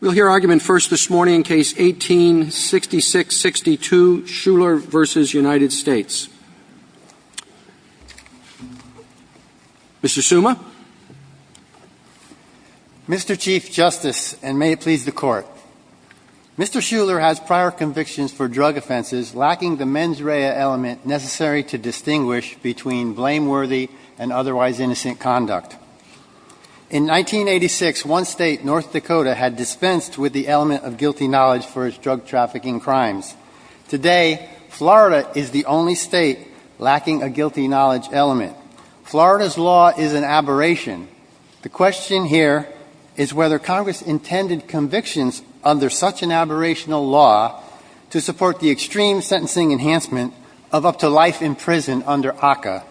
Mr. Schular has prior convictions for drug offenses lacking the mens rea element necessary to distinguish between blameworthy and otherwise innocent conduct. In 1986, one state, North Dakota, had dispensed with the element of guilty knowledge for its drug trafficking crimes. Today, Florida is the only state lacking a guilty knowledge element. Florida's law is an aberration. The question here is whether Congress intended convictions under such an aberrational law to support the extreme sentencing enhancement of up to life in prison under ACCA.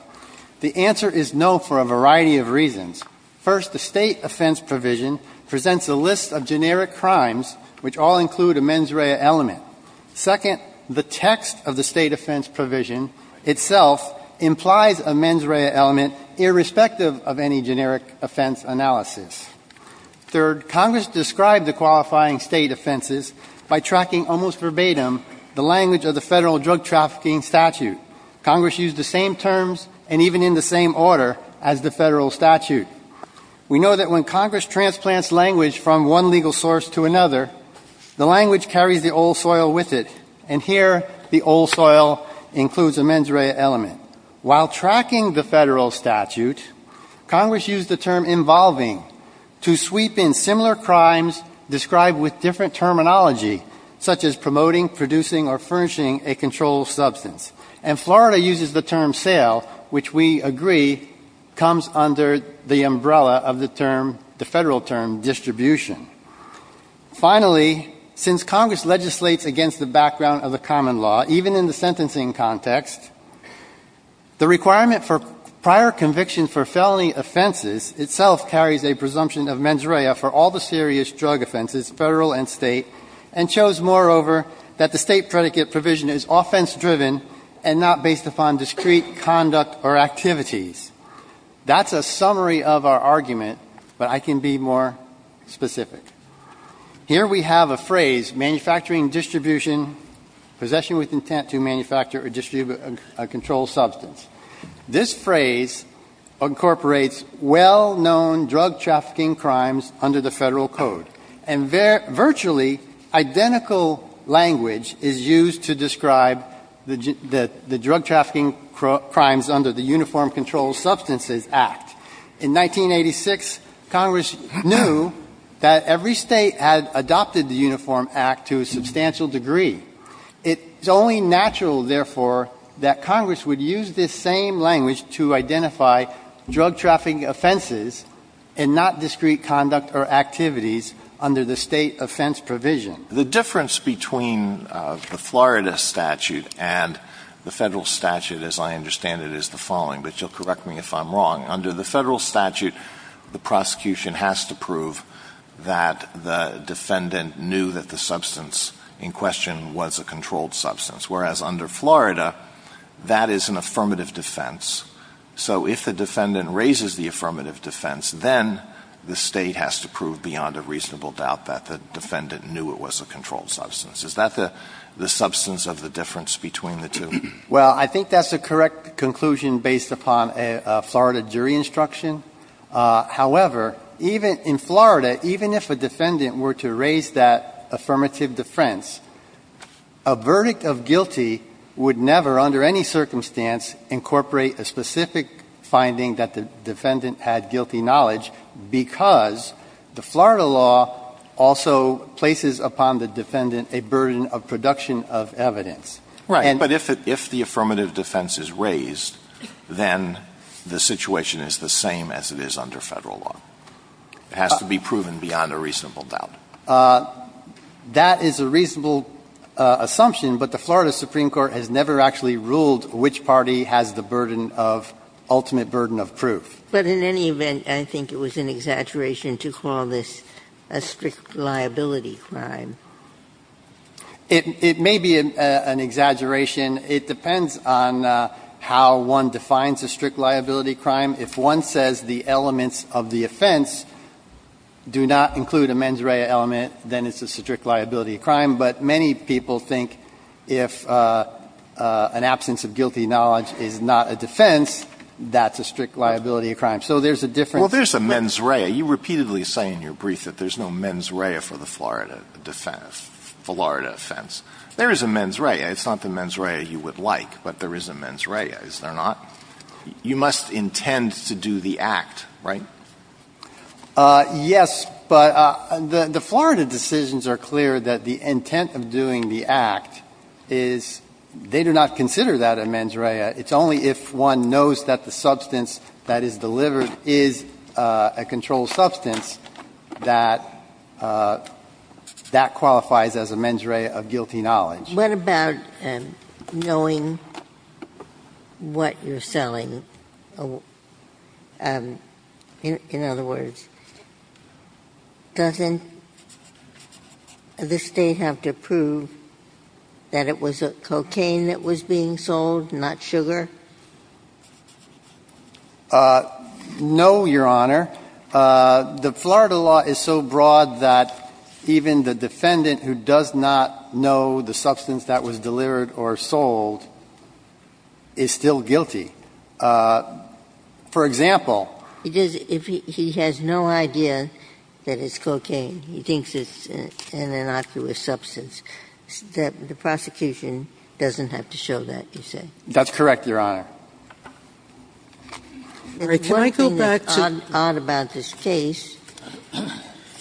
The answer is no for a variety of reasons. First, the state offense provision presents a list of generic crimes which all include a mens rea element. Second, the text of the state offense provision itself implies a mens rea element irrespective of any generic offense analysis. Third, Congress described the qualifying state offenses by tracking almost verbatim the language of the federal drug trafficking statute. Congress used the same terms and even in the same order as the federal statute. We know that when Congress transplants language from one legal source to another, the language carries the old soil with it. And here, the old soil includes a mens rea element. While tracking the federal statute, Congress used the term involving to sweep in similar crimes described with different terminology such as promoting, producing, or furnishing a controlled substance. And Florida uses the term sale, which we agree comes under the umbrella of the term, the federal term distribution. Finally, since Congress legislates against the background of the common law, even in the sentencing context, the requirement for prior conviction for felony offenses itself carries a presumption of mens rea for all the serious drug offenses, federal and state, and shows, moreover, that the State predicate provision is offense-driven and not based upon discrete conduct or activities. That's a summary of our argument, but I can be more specific. Here we have a phrase, manufacturing distribution, possession with intent to manufacture or distribute a controlled substance. This phrase incorporates well-known drug trafficking crimes under the Federal Code and virtually identical language is used to describe the drug trafficking crimes under the Uniform Controlled Substances Act. In 1986, Congress knew that every State had adopted the Uniform Act to a substantial degree. It's only natural, therefore, that Congress would use this same language to identify drug trafficking offenses and not discrete conduct or activities under the State offense provision. The difference between the Florida statute and the Federal statute, as I understand it, is the following, but you'll correct me if I'm wrong. Under the Federal statute, the prosecution has to prove that the defendant knew that the substance in question was a controlled substance, whereas under Florida, that is an affirmative defense. So if the defendant raises the affirmative defense, then the State has to prove beyond a reasonable doubt that the defendant knew it was a controlled substance. Is that the substance of the difference between the two? Well, I think that's a correct conclusion based upon a Florida jury instruction. However, even in Florida, even if a defendant were to raise that affirmative defense, a verdict of guilty would never, under any circumstance, incorporate a specific finding that the defendant had guilty knowledge because the Florida law also places upon the defendant a burden of production of evidence. Right. But if the affirmative defense is raised, then the situation is the same as it is under Federal law. It has to be proven beyond a reasonable doubt. That is a reasonable assumption, but the Florida Supreme Court has never actually ruled which party has the burden of ultimate burden of proof. But in any event, I think it was an exaggeration to call this a strict liability crime. It may be an exaggeration. It depends on how one defines a strict liability crime. If one says the elements of the offense do not include a mens rea element, then it's a strict liability crime. But many people think if an absence of guilty knowledge is not a defense, that's a strict liability crime. So there's a difference. Well, there's a mens rea. You repeatedly say in your brief that there's no mens rea for the Florida offense. There is a mens rea. It's not the mens rea you would like, but there is a mens rea, is there not? You must intend to do the act, right? Yes, but the Florida decisions are clear that the intent of doing the act is they do not consider that a mens rea. It's only if one knows that the substance that is delivered is a controlled substance that that qualifies as a mens rea of guilty knowledge. What about knowing what you're selling? In other words, doesn't the State have to prove that it was cocaine that was being sold, not sugar? No, Your Honor. The Florida law is so broad that even the defendant who does not know the substance that was delivered or sold is still guilty. For example. If he has no idea that it's cocaine, he thinks it's an innocuous substance, the prosecution doesn't have to show that, you say? That's correct, Your Honor. Can I go back to? The one thing that's odd about this case,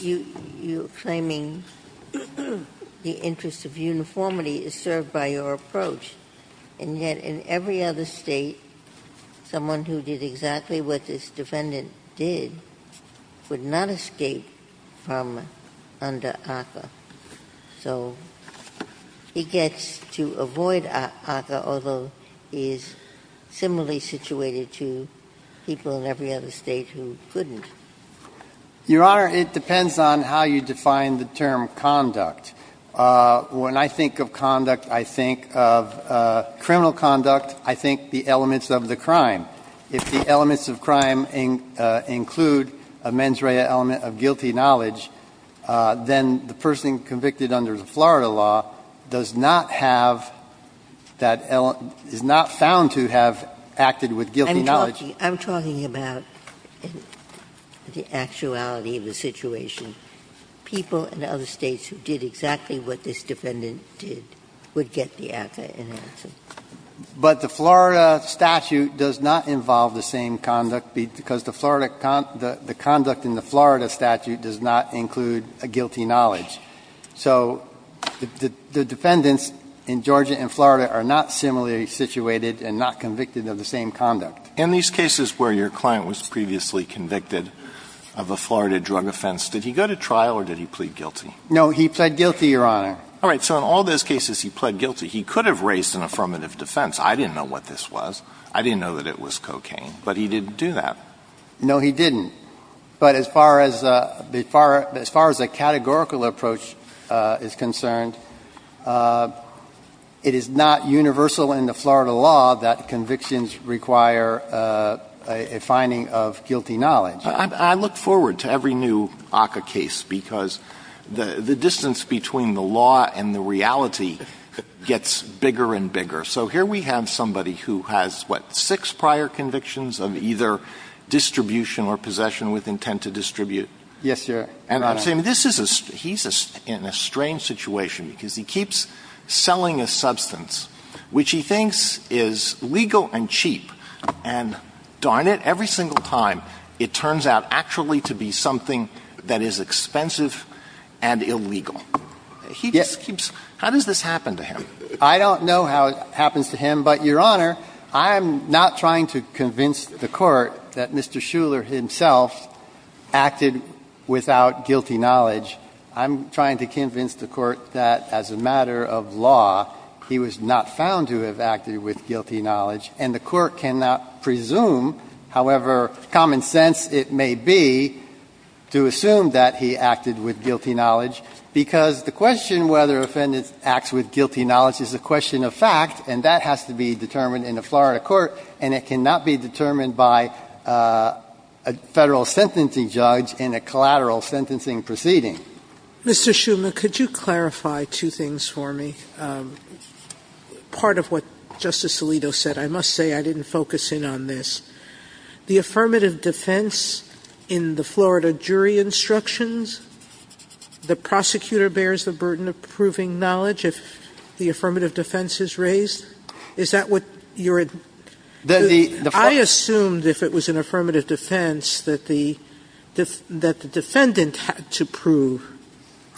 you're claiming the interest of uniformity is served by your approach, and yet in every other State, someone who did exactly what this defendant did would not escape from under ACCA. So he gets to avoid ACCA, although he is similarly situated to people in every other State who couldn't. Your Honor, it depends on how you define the term conduct. When I think of conduct, I think of criminal conduct. I think the elements of the crime. If the elements of crime include a mens rea element of guilty knowledge, then the person convicted under the Florida law does not have that element, is not found to have acted with guilty knowledge. I'm talking about the actuality of the situation. People in other States who did exactly what this defendant did would get the ACCA in answer. But the Florida statute does not involve the same conduct because the Florida con the conduct in the Florida statute does not include a guilty knowledge. So the defendants in Georgia and Florida are not similarly situated and not convicted of the same conduct. In these cases where your client was previously convicted of a Florida drug offense, did he go to trial or did he plead guilty? No, he pled guilty, Your Honor. All right. So in all those cases, he pled guilty. He could have raised an affirmative defense. I didn't know what this was. I didn't know that it was cocaine. But he didn't do that. No, he didn't. But as far as the categorical approach is concerned, it is not universal in the Florida law that convictions require a finding of guilty knowledge. I look forward to every new ACCA case because the distance between the law and the reality gets bigger and bigger. So here we have somebody who has, what, six prior convictions of either distribution or possession with intent to distribute. Yes, Your Honor. And I'm saying this is a he's in a strange situation because he keeps selling a substance which he thinks is legal and cheap. And darn it, every single time it turns out actually to be something that is expensive and illegal. He just keeps how does this happen to him? I don't know how it happens to him, but, Your Honor, I'm not trying to convince the Court that Mr. Shuler himself acted without guilty knowledge. I'm trying to convince the Court that as a matter of law, he was not found to have acted with guilty knowledge. And the Court cannot presume, however common sense it may be, to assume that he acted with guilty knowledge, because the question whether a defendant acts with guilty knowledge is a question of fact, and that has to be determined in a Florida court, and it cannot be determined by a Federal sentencing judge in a collateral sentencing proceeding. Sotomayor, could you clarify two things for me? Part of what Justice Alito said. I must say I didn't focus in on this. The affirmative defense in the Florida jury instructions, the prosecutor bears the burden of proving knowledge if the affirmative defense is raised? Is that what you're at? I assumed if it was an affirmative defense that the defendant had to prove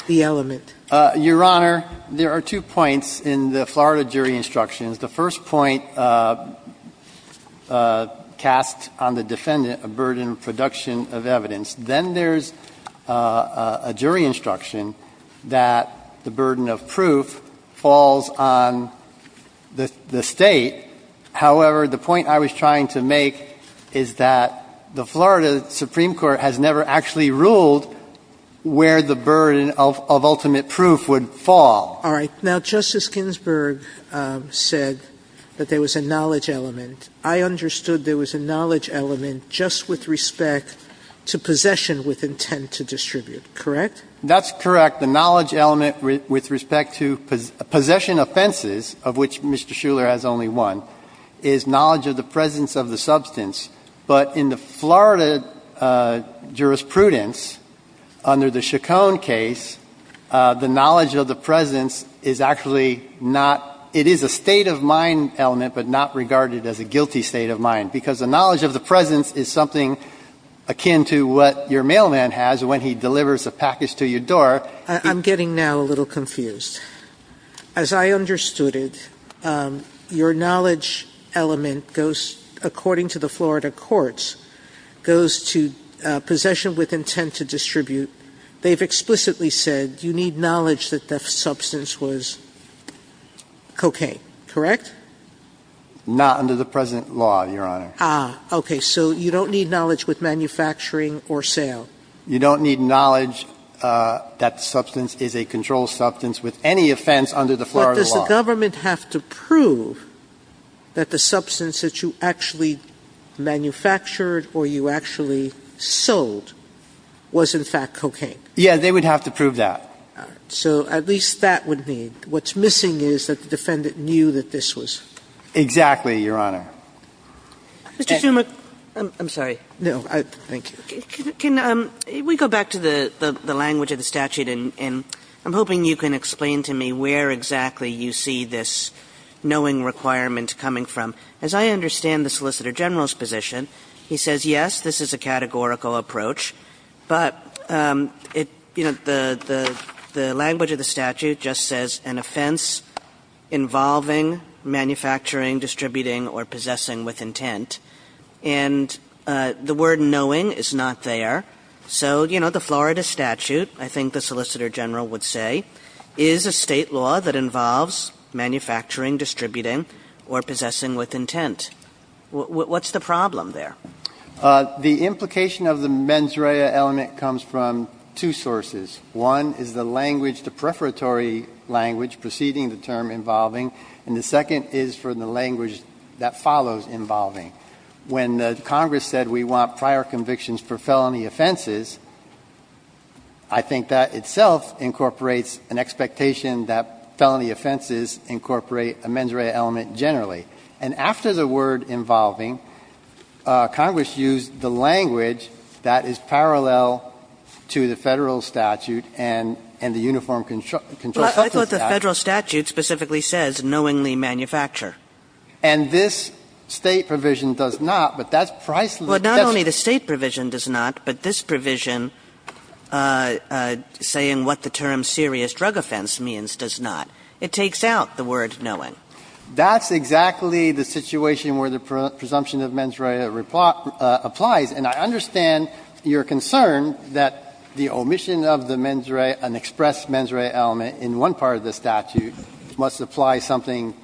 the element. Your Honor, there are two points in the Florida jury instructions. The first point cast on the defendant, a burden of production of evidence. Then there's a jury instruction that the burden of proof falls on the State. However, the point I was trying to make is that the Florida Supreme Court has never actually ruled where the burden of ultimate proof would fall. All right. Now, Justice Ginsburg said that there was a knowledge element. I understood there was a knowledge element just with respect to possession with intent to distribute, correct? That's correct. The knowledge element with respect to possession offenses, of which Mr. Shuler has only one, is knowledge of the presence of the substance. But in the Florida jurisprudence, under the Chacon case, the knowledge of the presence is actually not – it is a state of mind element, but not regarded as a guilty state of mind, because the knowledge of the presence is something akin to what your mailman has when he delivers a package to your door. I'm getting now a little confused. As I understood it, your knowledge element goes, according to the Florida courts, goes to possession with intent to distribute. They've explicitly said you need knowledge that the substance was cocaine, correct? Not under the present law, Your Honor. Ah, okay. So you don't need knowledge with manufacturing or sale. You don't need knowledge that the substance is a controlled substance with any offense under the Florida law. But does the government have to prove that the substance that you actually manufactured or you actually sold was, in fact, cocaine? Yeah, they would have to prove that. All right. So at least that would be. What's missing is that the defendant knew that this was. Exactly, Your Honor. Mr. Zuma – I'm sorry. No. Thank you. Can we go back to the language of the statute? And I'm hoping you can explain to me where exactly you see this knowing requirement coming from. As I understand the Solicitor General's position, he says, yes, this is a categorical approach, but, you know, the language of the statute just says an offense involving manufacturing, distributing, or possessing with intent. And the word knowing is not there. So, you know, the Florida statute, I think the Solicitor General would say, is a State law that involves manufacturing, distributing, or possessing with intent. What's the problem there? The implication of the mens rea element comes from two sources. One is the language, the preparatory language preceding the term involving. And the second is for the language that follows involving. When Congress said we want prior convictions for felony offenses, I think that itself incorporates an expectation that felony offenses incorporate a mens rea element generally. And after the word involving, Congress used the language that is parallel to the Federal statute and the Uniform Control Substance Act. But what the Federal statute specifically says, knowingly manufacture. And this State provision does not, but that's priceless. Kagan. Well, not only the State provision does not, but this provision saying what the term serious drug offense means does not. It takes out the word knowing. That's exactly the situation where the presumption of mens rea applies. And I understand your concern that the omission of the mens rea, an expressed mens rea element in one part of the statute must apply something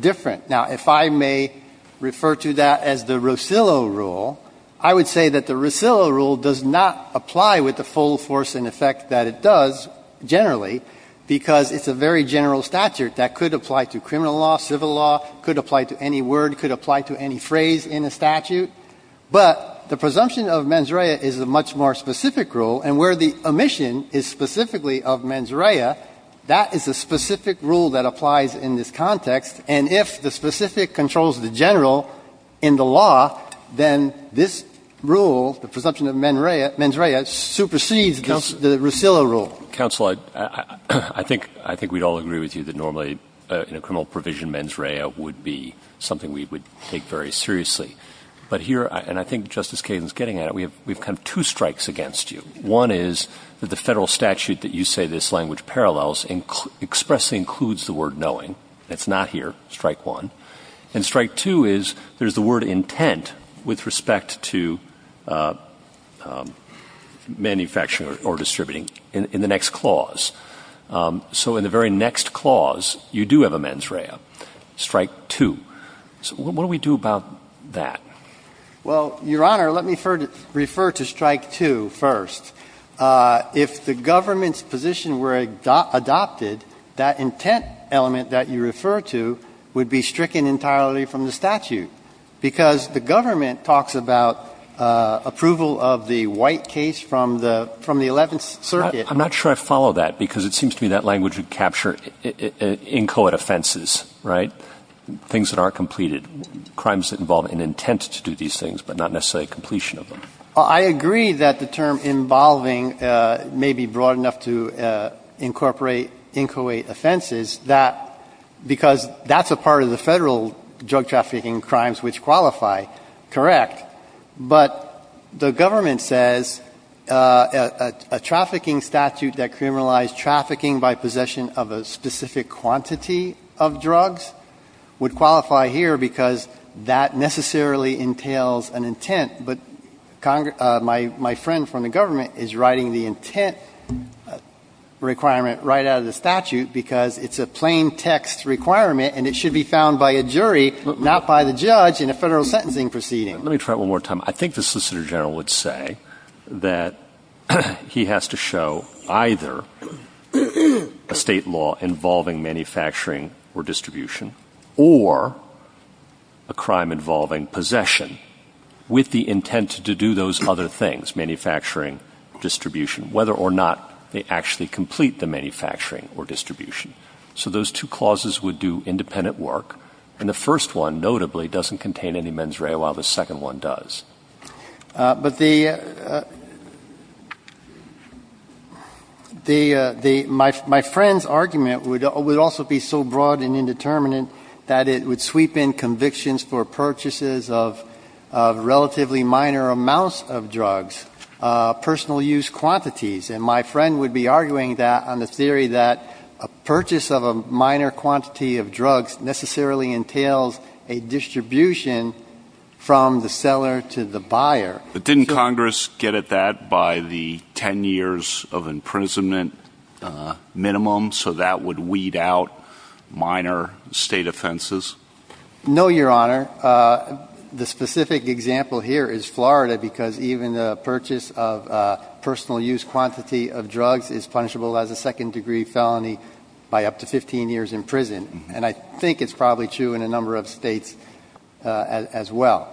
different. Now, if I may refer to that as the Rosillo rule, I would say that the Rosillo rule does not apply with the full force and effect that it does, generally, because it's a very general statute that could apply to criminal law, civil law, could apply to any word, could apply to any phrase in a statute. But the presumption of mens rea is a much more specific rule, and where the omission is specifically of mens rea, that is a specific rule that applies in this context. And if the specific controls the general in the law, then this rule, the presumption of mens rea, supersedes the Rosillo rule. Counsel, I think we'd all agree with you that normally in a criminal provision, mens rea would be something we would take very seriously. But here, and I think Justice Kagan is getting at it, we have kind of two strikes against you. One is that the Federal statute that you say this language parallels expressly includes the word knowing. It's not here, strike one. And strike two is there's the word intent with respect to manufacturing or distributing in the next clause. So in the very next clause, you do have a mens rea, strike two. So what do we do about that? Well, Your Honor, let me refer to strike two first. If the government's position were adopted, that intent element that you refer to would be stricken entirely from the statute, because the government talks about approval of the white case from the Eleventh Circuit. I'm not sure I follow that, because it seems to me that language would capture inchoate offenses, right, things that aren't completed, crimes that involve an intent to do these things, but not necessarily completion of them. I agree that the term involving may be broad enough to incorporate inchoate offenses that because that's a part of the Federal drug trafficking crimes which qualify, correct. But the government says a trafficking statute that criminalized trafficking by possession of a specific quantity of drugs would qualify here because that necessarily entails an intent, but my friend from the government is writing the intent requirement right out of the statute because it's a plain text requirement and it should be found by a jury, not by the judge in a Federal sentencing proceeding. Let me try it one more time. I think the Solicitor General would say that he has to show either a State law involving manufacturing or distribution or a crime involving possession with the intent to do those other things, manufacturing, distribution, whether or not they actually complete the manufacturing or distribution. So those two clauses would do independent work, and the first one, notably, doesn't contain any mens rea while the second one does. But the my friend's argument would also be so broad and indeterminate that it would sweep in convictions for purchases of relatively minor amounts of drugs, personal use quantities. And my friend would be arguing that on the theory that a purchase of a minor quantity of drugs necessarily entails a distribution from the seller to the buyer. But didn't Congress get at that by the 10 years of imprisonment minimum so that would weed out minor State offenses? No, Your Honor. The specific example here is Florida because even the purchase of a personal use quantity of drugs is punishable as a second-degree felony by up to 15 years in prison. And I think it's probably true in a number of States as well.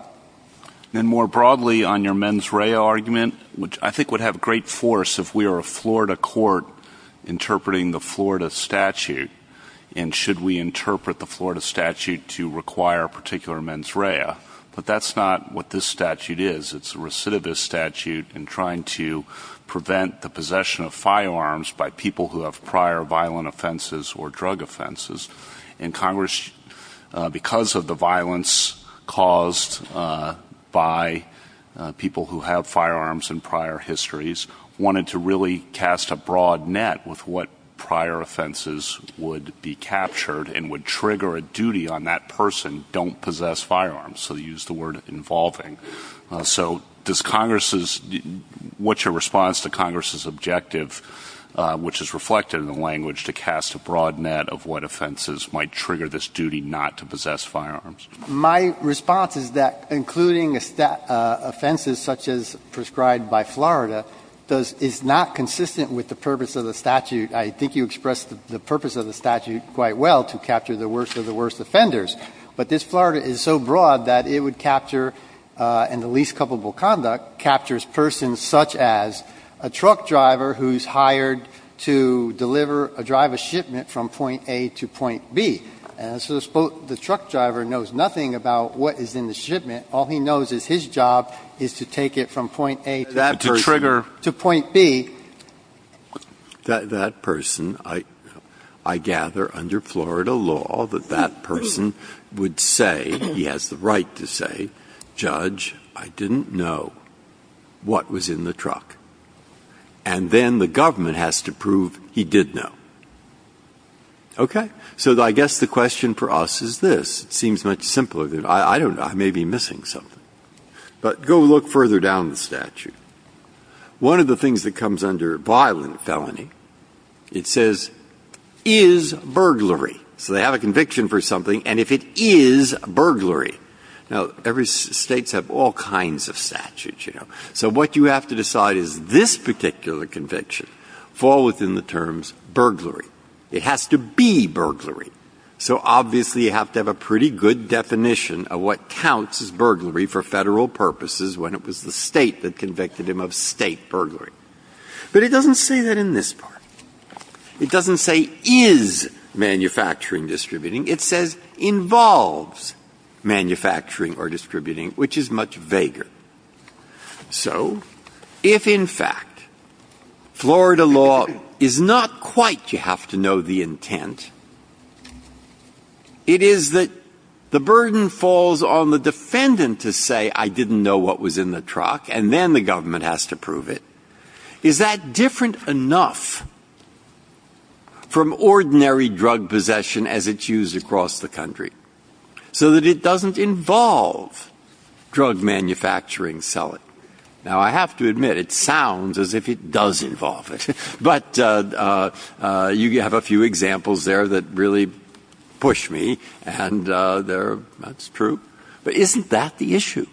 And more broadly on your mens rea argument, which I think would have great force if we were a Florida court interpreting the Florida statute, and should we interpret the Florida statute to require a particular mens rea, but that's not what this statute is. It's a recidivist statute in trying to prevent the possession of firearms by people who have prior violent offenses or drug offenses. And Congress, because of the violence caused by people who have firearms and prior histories, wanted to really cast a broad net with what prior offenses would be captured and would trigger a duty on that person, don't possess firearms. So they used the word involving. So does Congress's – what's your response to Congress's objective, which is reflected in the language, to cast a broad net of what offenses might trigger this duty not to possess firearms? My response is that including offenses such as prescribed by Florida is not consistent with the purpose of the statute. I think you expressed the purpose of the statute quite well, to capture the worst of all, that it would capture, in the least culpable conduct, captures persons such as a truck driver who's hired to deliver a driver's shipment from point A to point B. And so the truck driver knows nothing about what is in the shipment. All he knows is his job is to take it from point A to point B. Breyer, that person, I gather, under Florida law, that that person would say he has the right to say, judge, I didn't know what was in the truck. And then the government has to prove he did know. Okay? So I guess the question for us is this. It seems much simpler. I don't know. I may be missing something. But go look further down the statute. One of the things that comes under violent felony, it says, is burglary. So they have a conviction for something. And if it is burglary, now, every state has all kinds of statutes, you know. So what you have to decide is this particular conviction fall within the terms burglary. It has to be burglary. So obviously, you have to have a pretty good definition of what counts as burglary for Federal purposes when it was the State that convicted him of State burglary. But it doesn't say that in this part. It doesn't say is manufacturing distributing. It says involves manufacturing or distributing, which is much vaguer. So if, in fact, Florida law is not quite, you have to know, the intent, it is that the burden falls on the defendant to say, I didn't know what was in the truck. And then the government has to prove it. Is that different enough from ordinary drug possession as it's used across the country so that it doesn't involve drug manufacturing selling? Now, I have to admit, it sounds as if it does involve it. But you have a few examples there that really push me. And that's true. But isn't that the issue?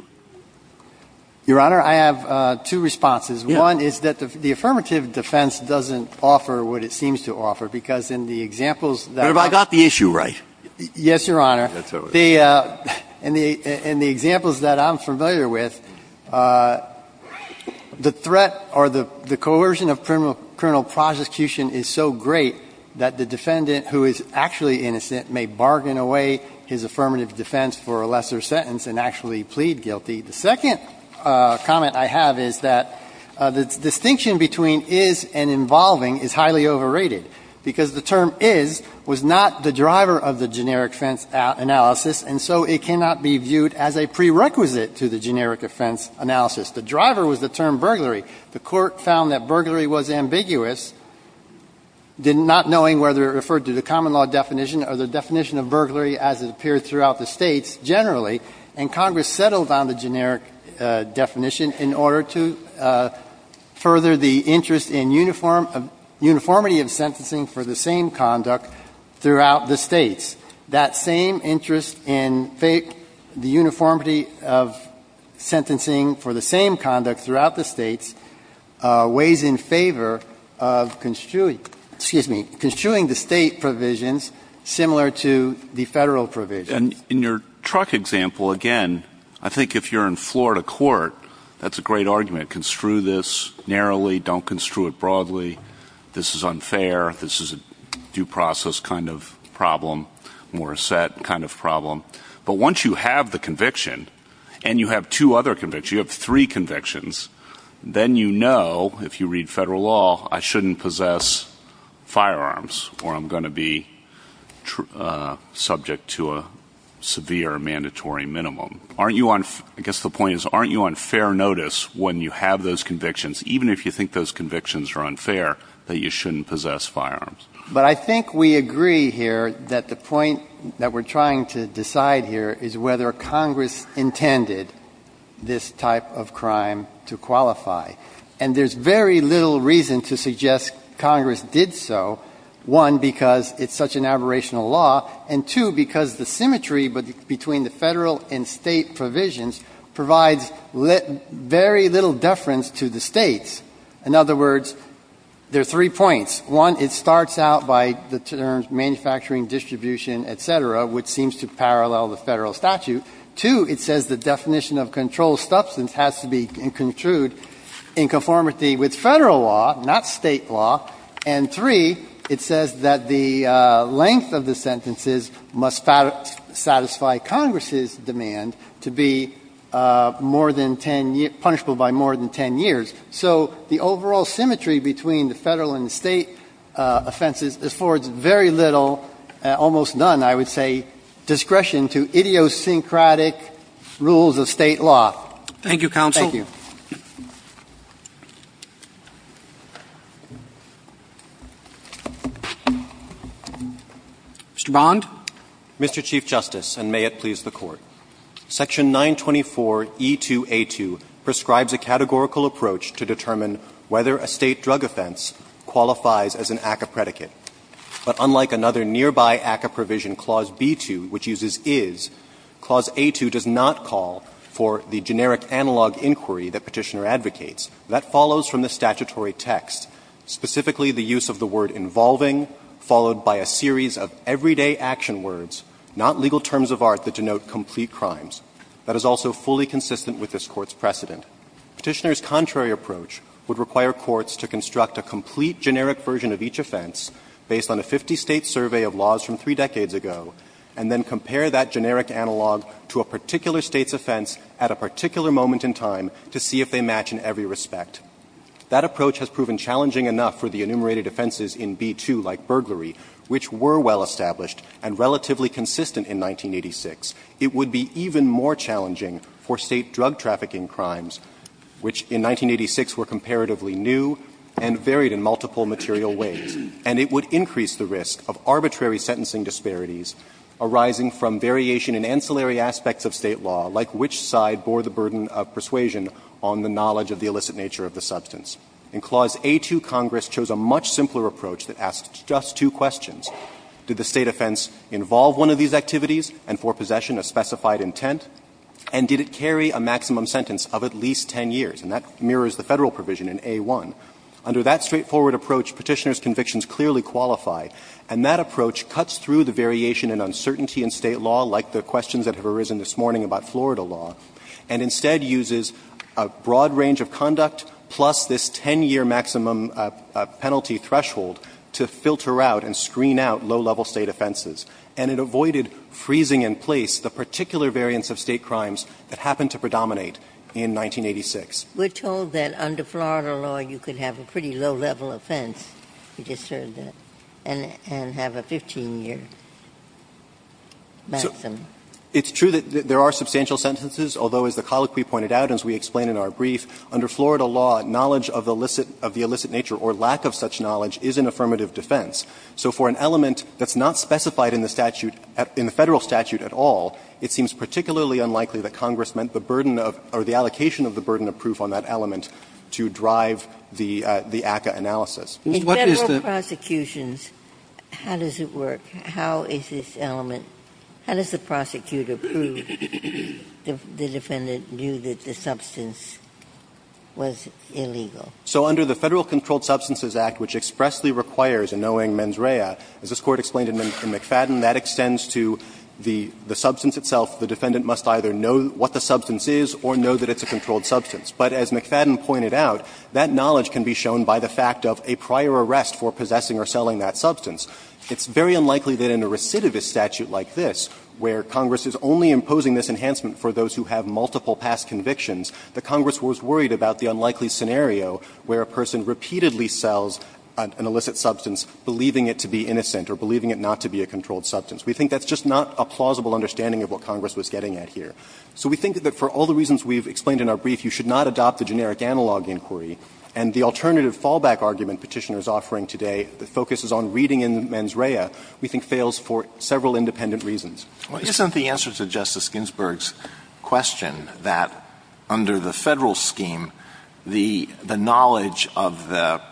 Your Honor, I have two responses. One is that the affirmative defense doesn't offer what it seems to offer, because in the examples that I've got. But have I got the issue right? Yes, Your Honor. And the examples that I'm familiar with, the threat or the coercion of criminal prosecution is so great that the defendant, who is actually innocent, may bargain away his affirmative defense for a lesser sentence and actually plead guilty. The second comment I have is that the distinction between is and involving is highly overrated, because the term is was not the driver of the generic offense analysis, and so it cannot be viewed as a prerequisite to the generic offense analysis. The driver was the term burglary. The Court found that burglary was ambiguous, not knowing whether it referred to the common law definition or the definition of burglary as it appeared throughout the States generally, and Congress settled on the generic definition in order to further the interest in uniformity of sentencing for the same conduct throughout the States. That same interest in the uniformity of sentencing for the same conduct throughout the States weighs in favor of construing the State provisions similar to the Federal provisions. And in your truck example, again, I think if you're in Florida court, that's a great argument. Construe this narrowly. Don't construe it broadly. This is unfair. This is a due process kind of problem, more set kind of problem. But once you have the conviction and you have two other convictions, you have three convictions, then you know, if you read Federal law, I shouldn't possess firearms or I'm going to be subject to a severe mandatory minimum. Aren't you on — I guess the point is, aren't you on fair notice when you have those convictions, even if you think those convictions are unfair, that you shouldn't possess firearms? But I think we agree here that the point that we're trying to decide here is whether Congress intended this type of crime to qualify. And there's very little reason to suggest Congress did so, one, because it's such an aberrational law, and two, because the symmetry between the Federal and State provisions provides very little deference to the States. In other words, there are three points. One, it starts out by the terms manufacturing, distribution, et cetera, which seems to parallel the Federal statute. Two, it says the definition of controlled substance has to be in conformity with Federal law, not State law. And three, it says that the length of the sentences must satisfy Congress's demand to be more than 10 — punishable by more than 10 years. So the overall symmetry between the Federal and the State offenses affords very little — almost none, I would say — discretion to idiosyncratic rules of State law. Thank you, counsel. Thank you. Mr. Bond. Mr. Chief Justice, and may it please the Court. Section 924E2A2 prescribes a categorical approach to determine whether a State drug offense qualifies as an act of predicate. But unlike another nearby ACCA provision, Clause B2, which uses is, Clause A2 does not call for the generic analog inquiry that Petitioner advocates. That follows from the statutory text, specifically the use of the word involving, followed by a series of everyday action words, not legal terms of art that denote complete crimes. That is also fully consistent with this Court's precedent. Petitioner's contrary approach would require courts to construct a complete generic version of each offense based on a 50-State survey of laws from three decades ago, and then compare that generic analog to a particular State's offense at a particular moment in time to see if they match in every respect. That approach has proven challenging enough for the enumerated offenses in B2, like burglary, which were well established and relatively consistent in 1986. It would be even more challenging for State drug trafficking crimes, which in 1986 were comparatively new and varied in multiple material ways, and it would increase the risk of arbitrary sentencing disparities arising from variation in ancillary aspects of State law, like which side bore the burden of persuasion on the knowledge of the illicit nature of the substance. In Clause A2, Congress chose a much simpler approach that asked just two questions. Did the State offense involve one of these activities and, for possession, a specified intent? And did it carry a maximum sentence of at least 10 years? And that mirrors the Federal provision in A1. Under that straightforward approach, Petitioner's convictions clearly qualify. And that approach cuts through the variation and uncertainty in State law, like the questions that have arisen this morning about Florida law, and instead uses a broad range of conduct plus this 10-year maximum penalty threshold to filter out and screen out low-level State offenses. And it avoided freezing in place the particular variance of State crimes that happened to predominate in 1986. Ginsburg. We're told that under Florida law, you could have a pretty low-level offense. We just heard that. And have a 15-year maximum. It's true that there are substantial sentences, although, as the colloquy pointed out, as we explain in our brief, under Florida law, knowledge of the illicit nature or lack of such knowledge is an affirmative defense. So for an element that's not specified in the statute, in the Federal statute at all, it seems particularly unlikely that Congress meant the burden of or the allocation of the burden of proof on that element to drive the ACCA analysis. What is the ---- Ginsburg. In Federal prosecutions, how does it work? How is this element ---- how does the prosecutor prove the defendant knew that the substance was illegal? So under the Federal Controlled Substances Act, which expressly requires a knowing mens rea, as this Court explained in McFadden, that extends to the substance itself. The defendant must either know what the substance is or know that it's a controlled substance. But as McFadden pointed out, that knowledge can be shown by the fact of a prior arrest for possessing or selling that substance. It's very unlikely that in a recidivist statute like this, where Congress is only imposing this enhancement for those who have multiple past convictions, that Congress was worried about the unlikely scenario where a person repeatedly sells an illicit substance, believing it to be innocent or believing it not to be a controlled substance. We think that's just not a plausible understanding of what Congress was getting at here. So we think that for all the reasons we've explained in our brief, you should not adopt the generic analog inquiry. And the alternative fallback argument Petitioner is offering today that focuses on reading in mens rea, we think, fails for several independent reasons. Alitoson Well, isn't the answer to Justice Ginsburg's question that under the Federal scheme, the knowledge of the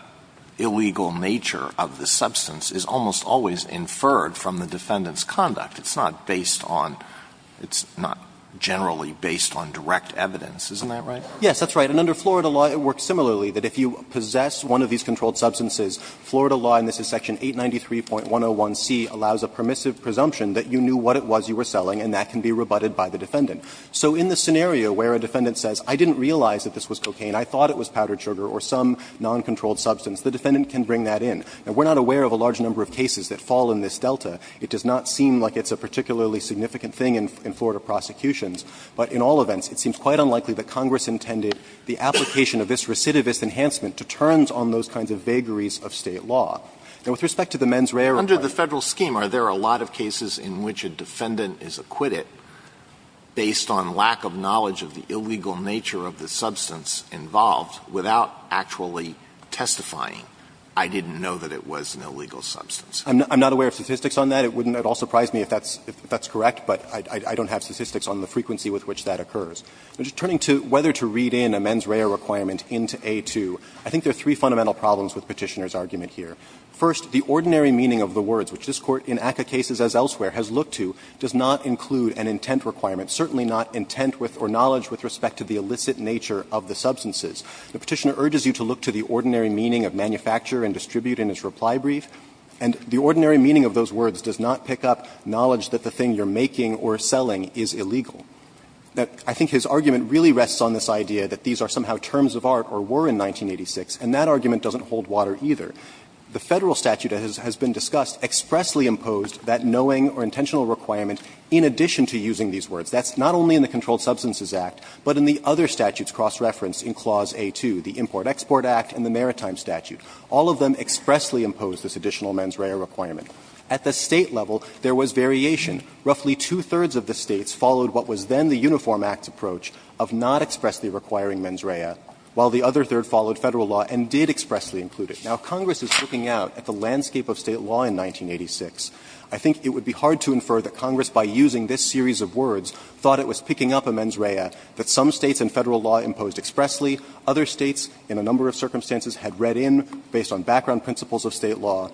illegal nature of the substance is almost always inferred from the defendant's conduct? It's not based on – it's not generally based on direct evidence. Isn't that right? Rienzi Yes, that's right. And under Florida law, it works similarly, that if you possess one of these controlled substances, Florida law, and this is section 893.101c, allows a permissive presumption that you knew what it was you were selling, and that can be rebutted by the defendant. So in the scenario where a defendant says, I didn't realize that this was cocaine, I thought it was powdered sugar or some noncontrolled substance, the defendant can bring that in. Now, we're not aware of a large number of cases that fall in this delta. It does not seem like it's a particularly significant thing in Florida prosecutions. But in all events, it seems quite unlikely that Congress intended the application of this recidivist enhancement to turns on those kinds of vagaries of State law. Now, with respect to the mens rea requirement – Alito I assume are there a lot of cases in which a defendant is acquitted based on lack of knowledge of the illegal nature of the substance involved without actually testifying, I didn't know that it was an illegal substance. Rienzi I'm not aware of statistics on that. It wouldn't at all surprise me if that's correct, but I don't have statistics on the frequency with which that occurs. Turning to whether to read in a mens rea requirement into A2, I think there are three fundamental problems with Petitioner's argument here. First, the ordinary meaning of the words, which this Court in ACCA cases as elsewhere has looked to, does not include an intent requirement, certainly not intent with or knowledge with respect to the illicit nature of the substances. The Petitioner urges you to look to the ordinary meaning of manufacture and distribute in his reply brief, and the ordinary meaning of those words does not pick up knowledge that the thing you're making or selling is illegal. I think his argument really rests on this idea that these are somehow terms of art or were in 1986, and that argument doesn't hold water either. The Federal statute, as has been discussed, expressly imposed that knowing or intentional requirement in addition to using these words. That's not only in the Controlled Substances Act, but in the other statutes cross-referenced in Clause A2, the Import-Export Act and the Maritime Statute. All of them expressly imposed this additional mens rea requirement. At the State level, there was variation. Roughly two-thirds of the States followed what was then the Uniform Act's approach of not expressly requiring mens rea, while the other third followed Federal law and did expressly include it. Now, Congress is looking out at the landscape of State law in 1986. I think it would be hard to infer that Congress, by using this series of words, thought it was picking up a mens rea that some States in Federal law imposed expressly, other States in a number of circumstances had read in based on background principles of State law,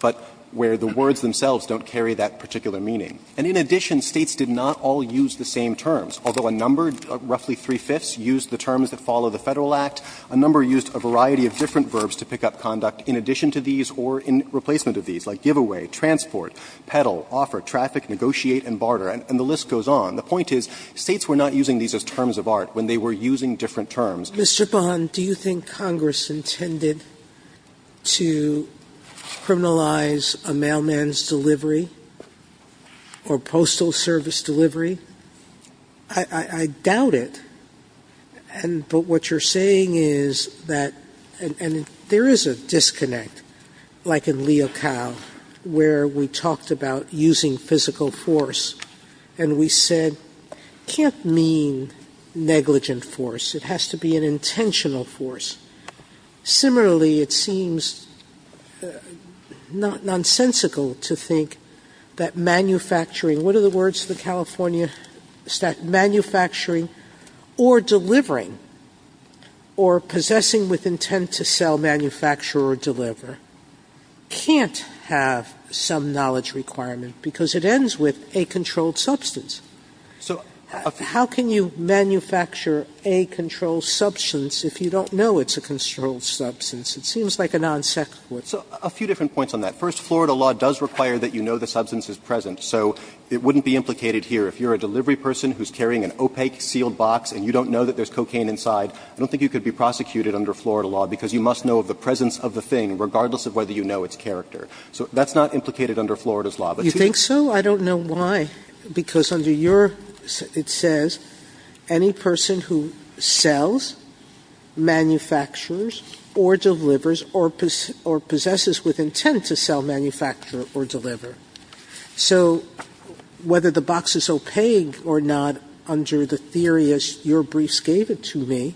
but where the words themselves don't carry that particular meaning. And in addition, States did not all use the same terms, although a number, roughly three-fifths, used the terms that follow the Federal Act. A number used a variety of different verbs to pick up conduct in addition to these or in replacement of these, like give away, transport, peddle, offer, traffic, negotiate and barter, and the list goes on. The point is, States were not using these as terms of art when they were using different terms. Sotomayor, do you think Congress intended to criminalize a mailman's delivery or postal service delivery? Sotomayor, I doubt it, but what you're saying is that, and there is a disconnect, like in Leocal, where we talked about using physical force, and we said, can't mean negligent force, it has to be an intentional force. Similarly, it seems nonsensical to think that manufacturing, what are the words the California State, manufacturing or delivering, or possessing with intent to sell, manufacture, or deliver, can't have some knowledge requirement, because it ends with a controlled substance. So how can you manufacture a controlled substance if you don't know it's a controlled substance? It seems like a non-sequitur. So a few different points on that. First, Florida law does require that you know the substance is present, so it wouldn't be implicated here. If you're a delivery person who's carrying an opaque sealed box and you don't know that there's cocaine inside, I don't think you could be prosecuted under Florida law, because you must know of the presence of the thing, regardless of whether you know its character. So that's not implicated under Florida's law, but you think so? Sotomayor, I don't know why, because under your, it says, any person who sells, manufactures, or delivers, or possesses with intent to sell, manufacture, or deliver. So whether the box is opaque or not, under the theory as your briefs gave it to me,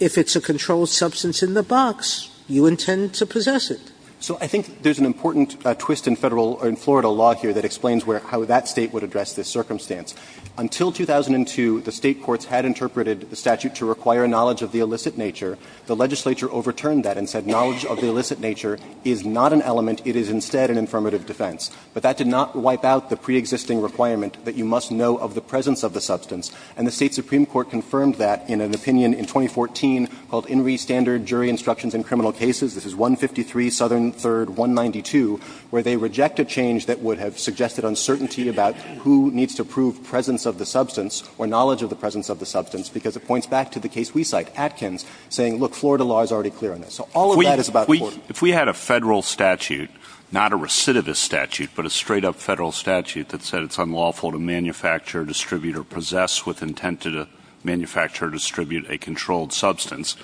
if it's a controlled substance in the box, you intend to possess it. So I think there's an important twist in Federal, in Florida law here that explains where, how that State would address this circumstance. Until 2002, the State courts had interpreted the statute to require knowledge of the illicit nature. The legislature overturned that and said knowledge of the illicit nature is not an element. It is instead an affirmative defense. But that did not wipe out the preexisting requirement that you must know of the presence of the substance. And the State supreme court confirmed that in an opinion in 2014 called Inree Standard Jury Instructions in Criminal Cases. This is 153, Southern 3rd, 192, where they reject a change that would have suggested uncertainty about who needs to prove presence of the substance or knowledge of the presence of the substance, because it points back to the case we cite, Atkins, saying, look, Florida law is already clear on this. So all of that is about the court. If we had a Federal statute, not a recidivist statute, but a straight up Federal statute that said it's unlawful to manufacture, distribute, or possess with intent to manufacture or distribute a controlled substance,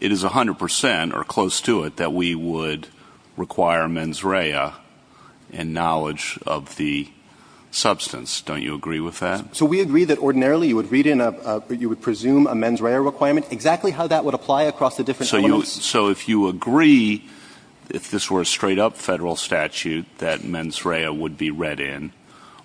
it is 100 percent or close to it that we would require mens rea and knowledge of the substance. Don't you agree with that? So we agree that ordinarily you would read in a, you would presume a mens rea requirement, exactly how that would apply across the different elements. So if you agree, if this were a straight up Federal statute that mens rea would be read in,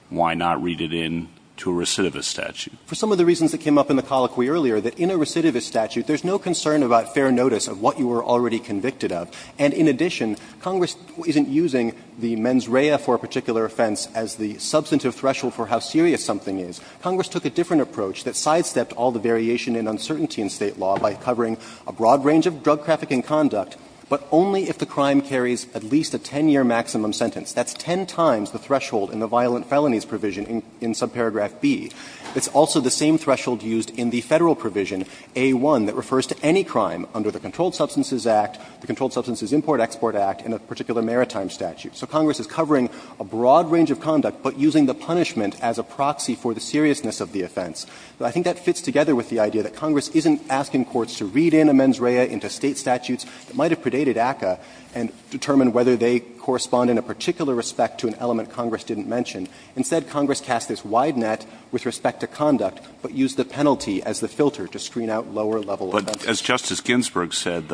why not read it in to a recidivist statute? For some of the reasons that came up in the colloquy earlier, that in a recidivist statute there's no concern about fair notice of what you were already convicted of. And in addition, Congress isn't using the mens rea for a particular offense as the substantive threshold for how serious something is. Congress took a different approach that sidestepped all the variation in uncertainty in State law by covering a broad range of drug trafficking conduct, but only if the crime carries at least a 10-year maximum sentence. That's 10 times the threshold in the violent felonies provision in subparagraph B. It's also the same threshold used in the Federal provision, A.1., that refers to any crime under the Controlled Substances Act, the Controlled Substances Import-Export Act, and a particular maritime statute. So Congress is covering a broad range of conduct, but using the punishment as a proxy for the seriousness of the offense. I think that fits together with the idea that Congress isn't asking courts to read in a mens rea into State statutes that might have predated ACCA and determine whether they correspond in a particular respect to an element Congress didn't mention. Instead, Congress cast this wide net with respect to conduct, but used the penalty as the filter to screen out lower-level offenses. But as Justice Ginsburg said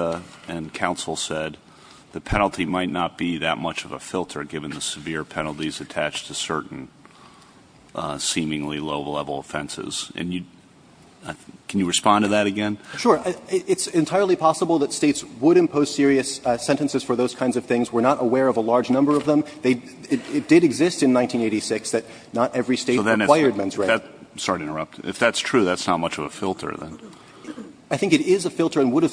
and counsel said, the penalty might not be that much of a filter, given the severe penalties attached to certain seemingly low-level offenses. And you – can you respond to that again? Sure. It's entirely possible that States would impose serious sentences for those kinds of things. We're not aware of a large number of them. They – it did exist in 1986 that not every State required mens rea. So then if that – sorry to interrupt. If that's true, that's not much of a filter, then. I think it is a filter and would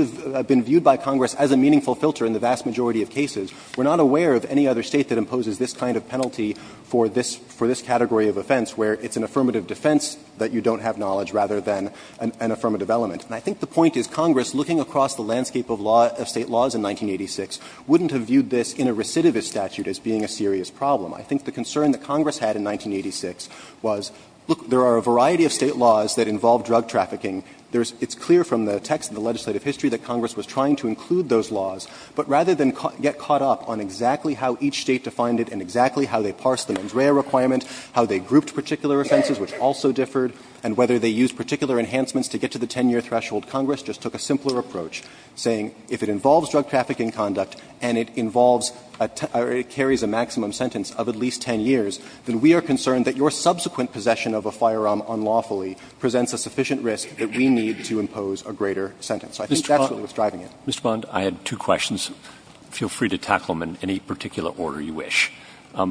have been viewed by Congress as a meaningful filter in the vast majority of cases. We're not aware of any other State that imposes this kind of penalty for this category of offense, where it's an affirmative defense that you don't have knowledge rather than an affirmative element. And I think the point is Congress, looking across the landscape of state laws in 1986, wouldn't have viewed this in a recidivist statute as being a serious problem. I think the concern that Congress had in 1986 was, look, there are a variety of State laws that involve drug trafficking. There's – it's clear from the text of the legislative history that Congress was trying to include those laws. But rather than get caught up on exactly how each State defined it and exactly how they parsed the mens rea requirement, how they grouped particular offenses, which also differed, and whether they used particular enhancements to get to the 10-year threshold, Congress just took a simpler approach, saying if it involves drug trafficking conduct and it involves a – or it carries a maximum sentence of at least 10 years, then we are concerned that your subsequent possession of a firearm unlawfully presents a sufficient risk that we need to impose a greater sentence. So I think that's what was driving it. Roberts. Mr. Bond, I had two questions. Feel free to tackle them in any particular order you wish.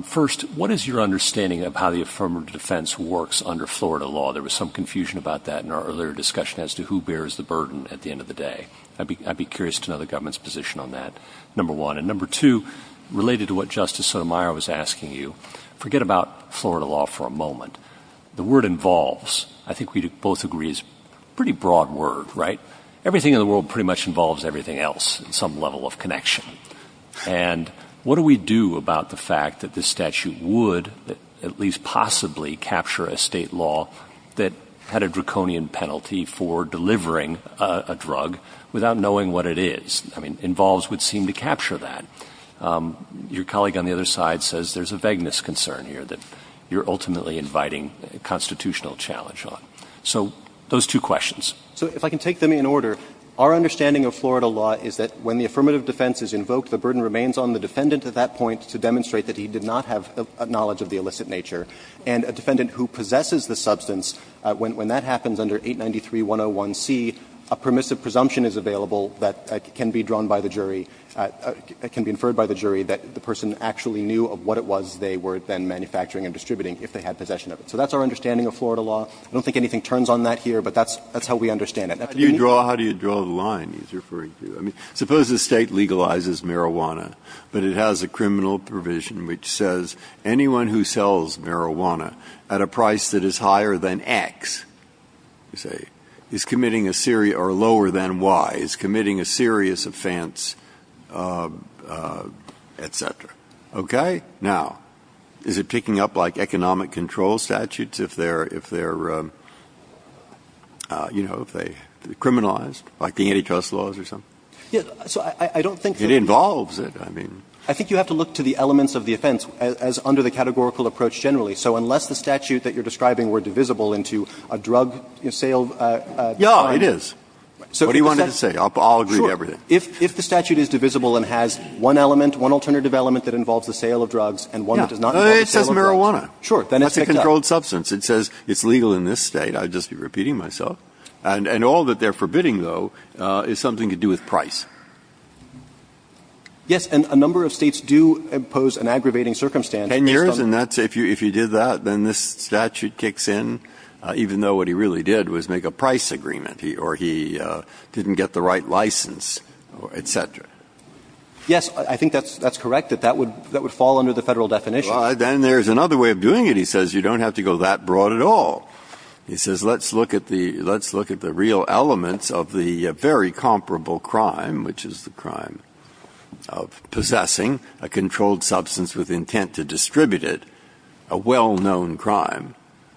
First, what is your understanding of how the affirmative defense works under Florida law? There was some confusion about that in our earlier discussion as to who bears the burden at the end of the day. I'd be curious to know the government's position on that, number one. And number two, related to what Justice Sotomayor was asking you, forget about Florida law for a moment. The word involves, I think we both agree, is a pretty broad word, right? Everything in the world pretty much involves everything else in some level of connection. And what do we do about the fact that this statute would at least possibly capture a State law that had a draconian penalty for delivering a drug without knowing what it is? I mean, involves would seem to capture that. Your colleague on the other side says there's a vagueness concern here that you're ultimately inviting a constitutional challenge on. So those two questions. So if I can take them in order, our understanding of Florida law is that when the affirmative defense is invoked, the burden remains on the defendant at that point to demonstrate that he did not have knowledge of the illicit nature. And a defendant who possesses the substance, when that happens under 893.101c, a permissive presumption is available that can be drawn by the jury, can be inferred by the jury that the person actually knew of what it was they were then manufacturing and distributing if they had possession of it. So that's our understanding of Florida law. I don't think anything turns on that here, but that's how we understand it. How do you draw the line he's referring to? I mean, suppose the state legalizes marijuana, but it has a criminal provision which says anyone who sells marijuana at a price that is higher than X, you say, is committing a serious or lower than Y, is committing a serious offense, et cetera. Okay? Now, is it picking up like economic control statutes if they're, you know, if they're criminalized, like the antitrust laws or something? So I don't think that it involves it. I mean, I think you have to look to the elements of the offense as under the categorical approach generally. So unless the statute that you're describing were divisible into a drug sale. Yeah, it is. So what do you want me to say? I'll agree to everything. If the statute is divisible and has one element, one alternative element that involves the sale of drugs and one that does not involve the sale of drugs, then it's picked up. It says marijuana. It's a controlled substance. It says it's legal in this State. I'd just be repeating myself. And all that they're forbidding, though, is something to do with price. Yes. And a number of States do impose an aggravating circumstance. Ten years, and that's if you did that, then this statute kicks in, even though what he really did was make a price agreement, or he didn't get the right license, et cetera. Yes, I think that's correct, that that would fall under the Federal definition. Then there's another way of doing it. He says you don't have to go that broad at all. He says let's look at the real elements of the very comparable crime, which is the crime of possessing a controlled substance with intent to distribute it, a well-known crime.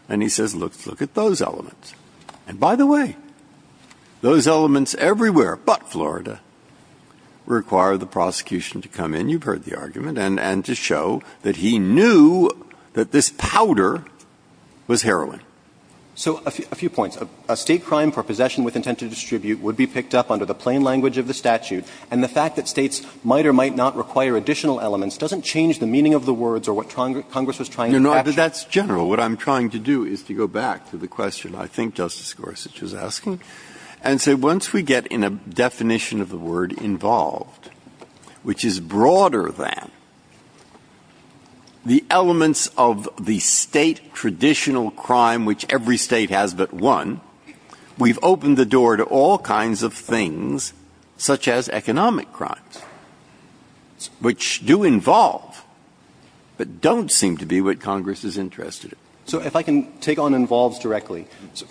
And he says, look at those elements. And by the way, those elements everywhere but Florida require the prosecution to come in. You've heard the argument. And to show that he knew that this powder was heroin. So a few points. A State crime for possession with intent to distribute would be picked up under the plain language of the statute. And the fact that States might or might not require additional elements doesn't change the meaning of the words or what Congress was trying to capture. No, no, but that's general. What I'm trying to do is to go back to the question I think Justice Gorsuch was asking and say once we get in a definition of the word involved, which is broader than the elements of the State traditional crime, which every State has but one, we've opened the door to all kinds of things, such as economic crimes, which do involve but don't seem to be what Congress is interested in. So if I can take on involves directly.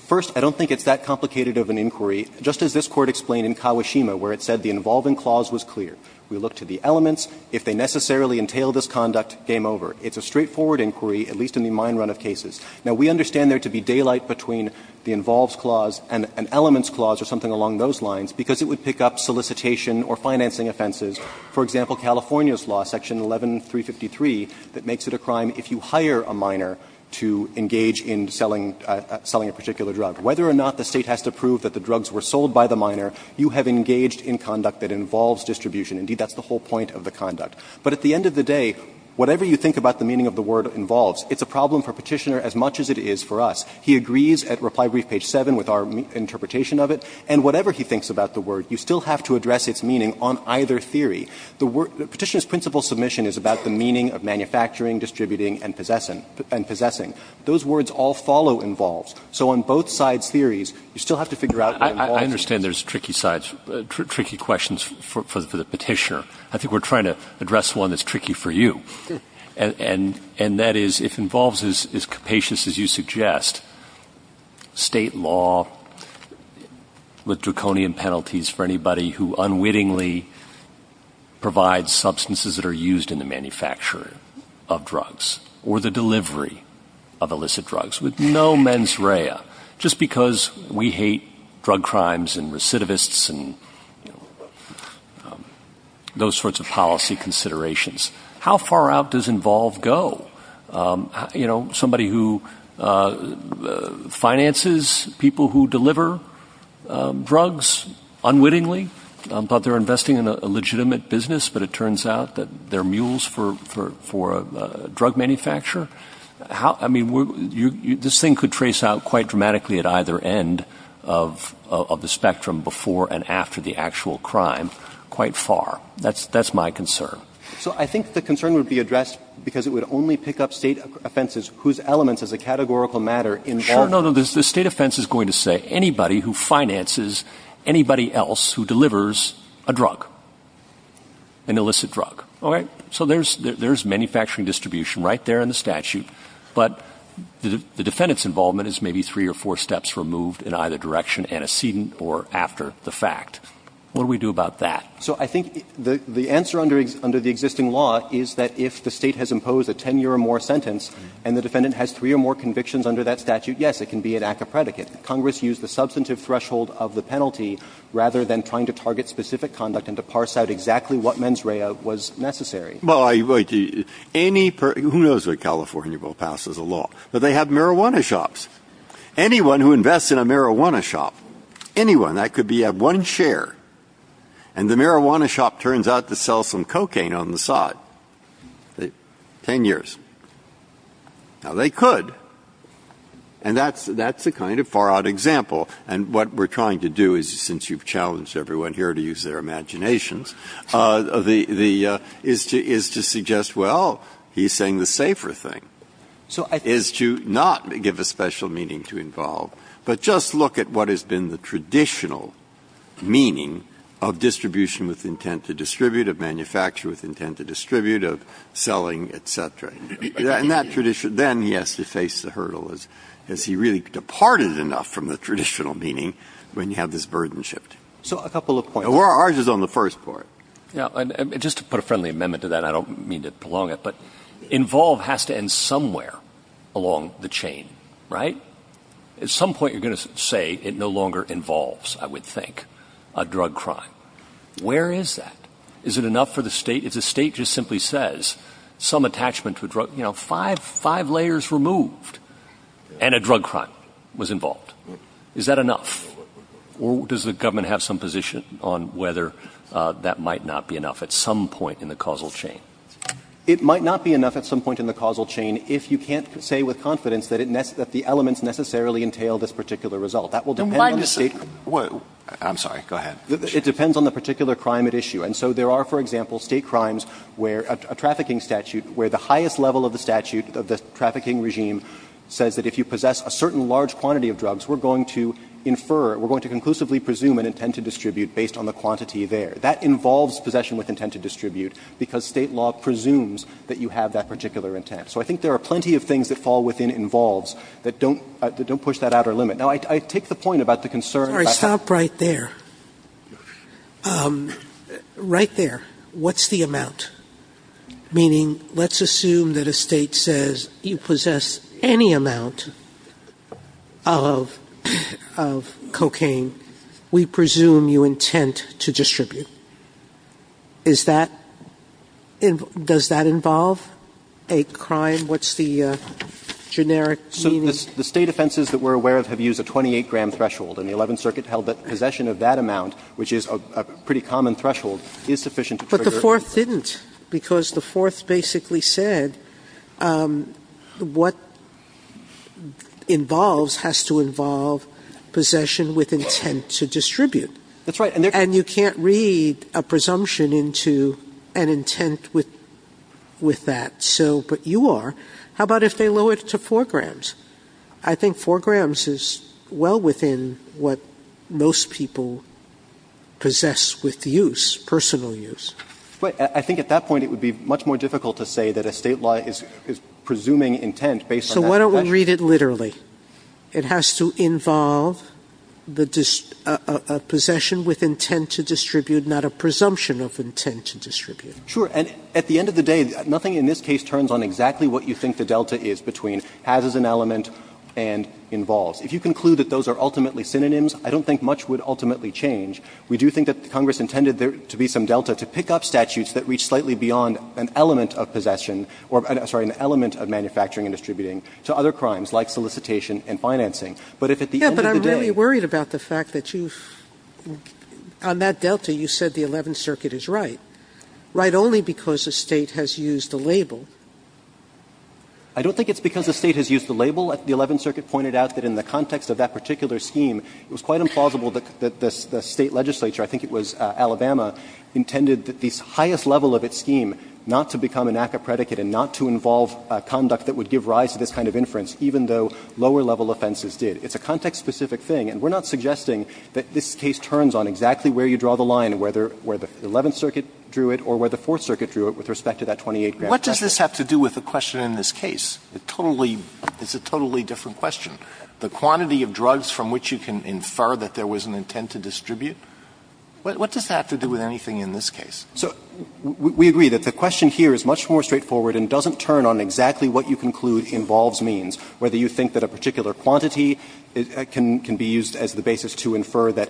First, I don't think it's that complicated of an inquiry, just as this Court explained in Kawashima, where it said the involving clause was clear. We look to the elements. If they necessarily entail this conduct, game over. It's a straightforward inquiry, at least in the mine run of cases. Now, we understand there to be daylight between the involves clause and an elements clause or something along those lines because it would pick up solicitation or financing offenses, for example, California's law, section 11353, that makes it a crime if you hire a miner to engage in selling a particular drug. Whether or not the State has to prove that the drugs were sold by the miner, you have to be engaged in conduct that involves distribution. Indeed, that's the whole point of the conduct. But at the end of the day, whatever you think about the meaning of the word involves, it's a problem for Petitioner as much as it is for us. He agrees at reply brief page 7 with our interpretation of it, and whatever he thinks about the word, you still have to address its meaning on either theory. The Petitioner's principle submission is about the meaning of manufacturing, distributing, and possessing. Those words all follow involves. So on both sides' theories, you still have to figure out what involves. I understand there's tricky sides, tricky questions for the Petitioner. I think we're trying to address one that's tricky for you. And that is, if involves is capacious as you suggest, state law with draconian penalties for anybody who unwittingly provides substances that are used in the manufacturing of drugs or the delivery of illicit drugs with no mens rea. Just because we hate drug crimes and recidivists and those sorts of policy considerations. How far out does involve go? Somebody who finances people who deliver drugs unwittingly. I thought they were investing in a legitimate business, but it turns out that they're mules for a drug manufacturer. I mean, this thing could trace out quite dramatically at either end of the spectrum before and after the actual crime, quite far. That's my concern. So I think the concern would be addressed because it would only pick up state offenses whose elements as a categorical matter involved. Sure, no, no, the state offense is going to say anybody who finances anybody else who delivers a drug, an illicit drug, okay? So there's manufacturing distribution right there in the statute. But the defendant's involvement is maybe three or four steps removed in either direction antecedent or after the fact. What do we do about that? So I think the answer under the existing law is that if the state has imposed a ten year or more sentence and the defendant has three or more convictions under that statute, yes, it can be an act of predicate. Congress used the substantive threshold of the penalty rather than trying to target a specific conduct and to parse out exactly what mens rea was necessary. Well, any, who knows what California will pass as a law, but they have marijuana shops. Anyone who invests in a marijuana shop, anyone, that could be at one share, and the marijuana shop turns out to sell some cocaine on the side, ten years. Now they could, and that's a kind of far out example. And what we're trying to do is, since you've challenged everyone here to use their imaginations, is to suggest, well, he's saying the safer thing. Is to not give a special meaning to involve, but just look at what has been the traditional meaning of distribution with intent to distribute, of manufacture with intent to distribute, of selling, et cetera, in that tradition. Then he has to face the hurdle, has he really departed enough from the traditional meaning when you have this burden shift? So a couple of points. Ours is on the first part. Yeah, and just to put a friendly amendment to that, I don't mean to prolong it, but involve has to end somewhere along the chain, right? At some point you're going to say it no longer involves, I would think, a drug crime. Where is that? Is it enough for the state? If the state just simply says, some attachment to a drug, five layers removed and a drug crime was involved, is that enough? Or does the government have some position on whether that might not be enough at some point in the causal chain? It might not be enough at some point in the causal chain if you can't say with confidence that the elements necessarily entail this particular result. That will depend on the state. I'm sorry, go ahead. It depends on the particular crime at issue. And so there are, for example, state crimes where a trafficking statute, where the highest level of the statute of the trafficking regime says that if you possess a certain large quantity of drugs, we're going to infer, we're going to conclusively presume an intent to distribute based on the quantity there. That involves possession with intent to distribute, because state law presumes that you have that particular intent. So I think there are plenty of things that fall within involves that don't push that outer limit. Now, I take the point about the concern. Sotomayor, stop right there. Right there, what's the amount? Meaning, let's assume that a State says you possess any amount of cocaine, we presume you intend to distribute. Is that, does that involve a crime? What's the generic meaning? The State offenses that we're aware of have used a 28-gram threshold, and the Eleventh Circuit held that possession of that amount, which is a pretty common threshold, is sufficient to trigger a conviction. But the Fourth didn't, because the Fourth basically said what involves has to involve possession with intent to distribute. That's right. And you can't read a presumption into an intent with that. So, but you are. How about if they lower it to 4 grams? I think 4 grams is well within what most people possess with use, personal use. But I think at that point it would be much more difficult to say that a State law is presuming intent based on that possession. So why don't we read it literally? It has to involve the possession with intent to distribute, not a presumption of intent to distribute. Sure. And at the end of the day, nothing in this case turns on exactly what you think the element and involves. If you conclude that those are ultimately synonyms, I don't think much would ultimately change. We do think that Congress intended there to be some delta to pick up statutes that reach slightly beyond an element of possession or, sorry, an element of manufacturing and distributing to other crimes like solicitation and financing. But if at the end of the day you're worried about the fact that you've, on that delta, you said the Eleventh Circuit is right, right only because the State has used the label. I don't think it's because the State has used the label. The Eleventh Circuit pointed out that in the context of that particular scheme, it was quite implausible that the State legislature, I think it was Alabama, intended that the highest level of its scheme not to become an ACCA predicate and not to involve conduct that would give rise to this kind of inference, even though lower level offenses did. It's a context-specific thing. And we're not suggesting that this case turns on exactly where you draw the line, whether where the Eleventh Circuit drew it or where the Fourth Circuit drew it with respect to that 28-gram package. Alitoson What does this have to do with the question in this case? It totally – it's a totally different question. The quantity of drugs from which you can infer that there was an intent to distribute? What does that have to do with anything in this case? So we agree that the question here is much more straightforward and doesn't turn on exactly what you conclude involves means, whether you think that a particular quantity can be used as the basis to infer that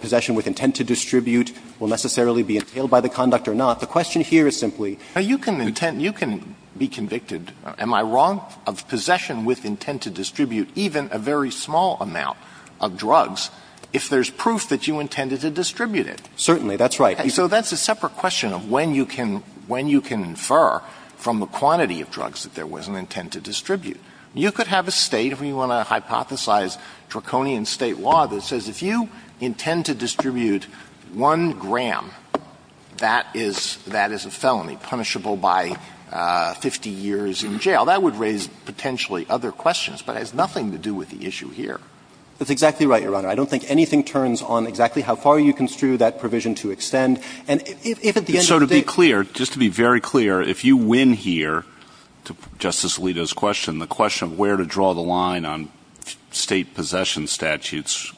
possession with intent to distribute will necessarily be entailed by the conduct or not. The question here is simply – Alitoson Now, you can intent – you can be convicted, am I wrong, of possession with intent to distribute even a very small amount of drugs if there's proof that you intended to distribute it. Alitoson Certainly, that's right. Alitoson So that's a separate question of when you can – when you can infer from the quantity of drugs that there was an intent to distribute. You could have a State, if we want to hypothesize draconian State law, that says if you intend to distribute one gram, that is – that is a felony, punishable by 50 years in jail. That would raise potentially other questions, but it has nothing to do with the issue here. That's exactly right, Your Honor. I don't think anything turns on exactly how far you construe that provision to extend. And if at the end of the day – Alitoson So to be clear, just to be very clear, if you win here, to Justice Alito's question, the question of where to draw the line on State possession statutes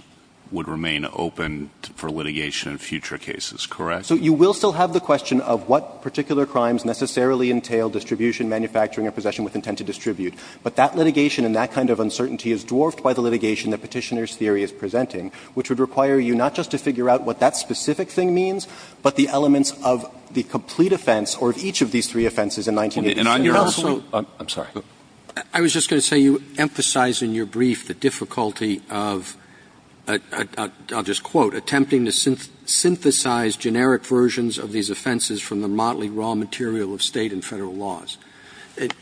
would remain open for litigation in future cases, correct? Alitoson So you will still have the question of what particular crimes necessarily entail distribution, manufacturing, or possession with intent to distribute. But that litigation and that kind of uncertainty is dwarfed by the litigation that Petitioner's theory is presenting, which would require you not just to figure out what that specific thing means, but the elements of the complete offense or of each of these three offenses in 1986. Roberts And you're also – I'm sorry. I was just going to say you emphasized in your brief the difficulty of, I'll just quote, Attempting to synthesize generic versions of these offenses from the motley raw material of State and Federal laws.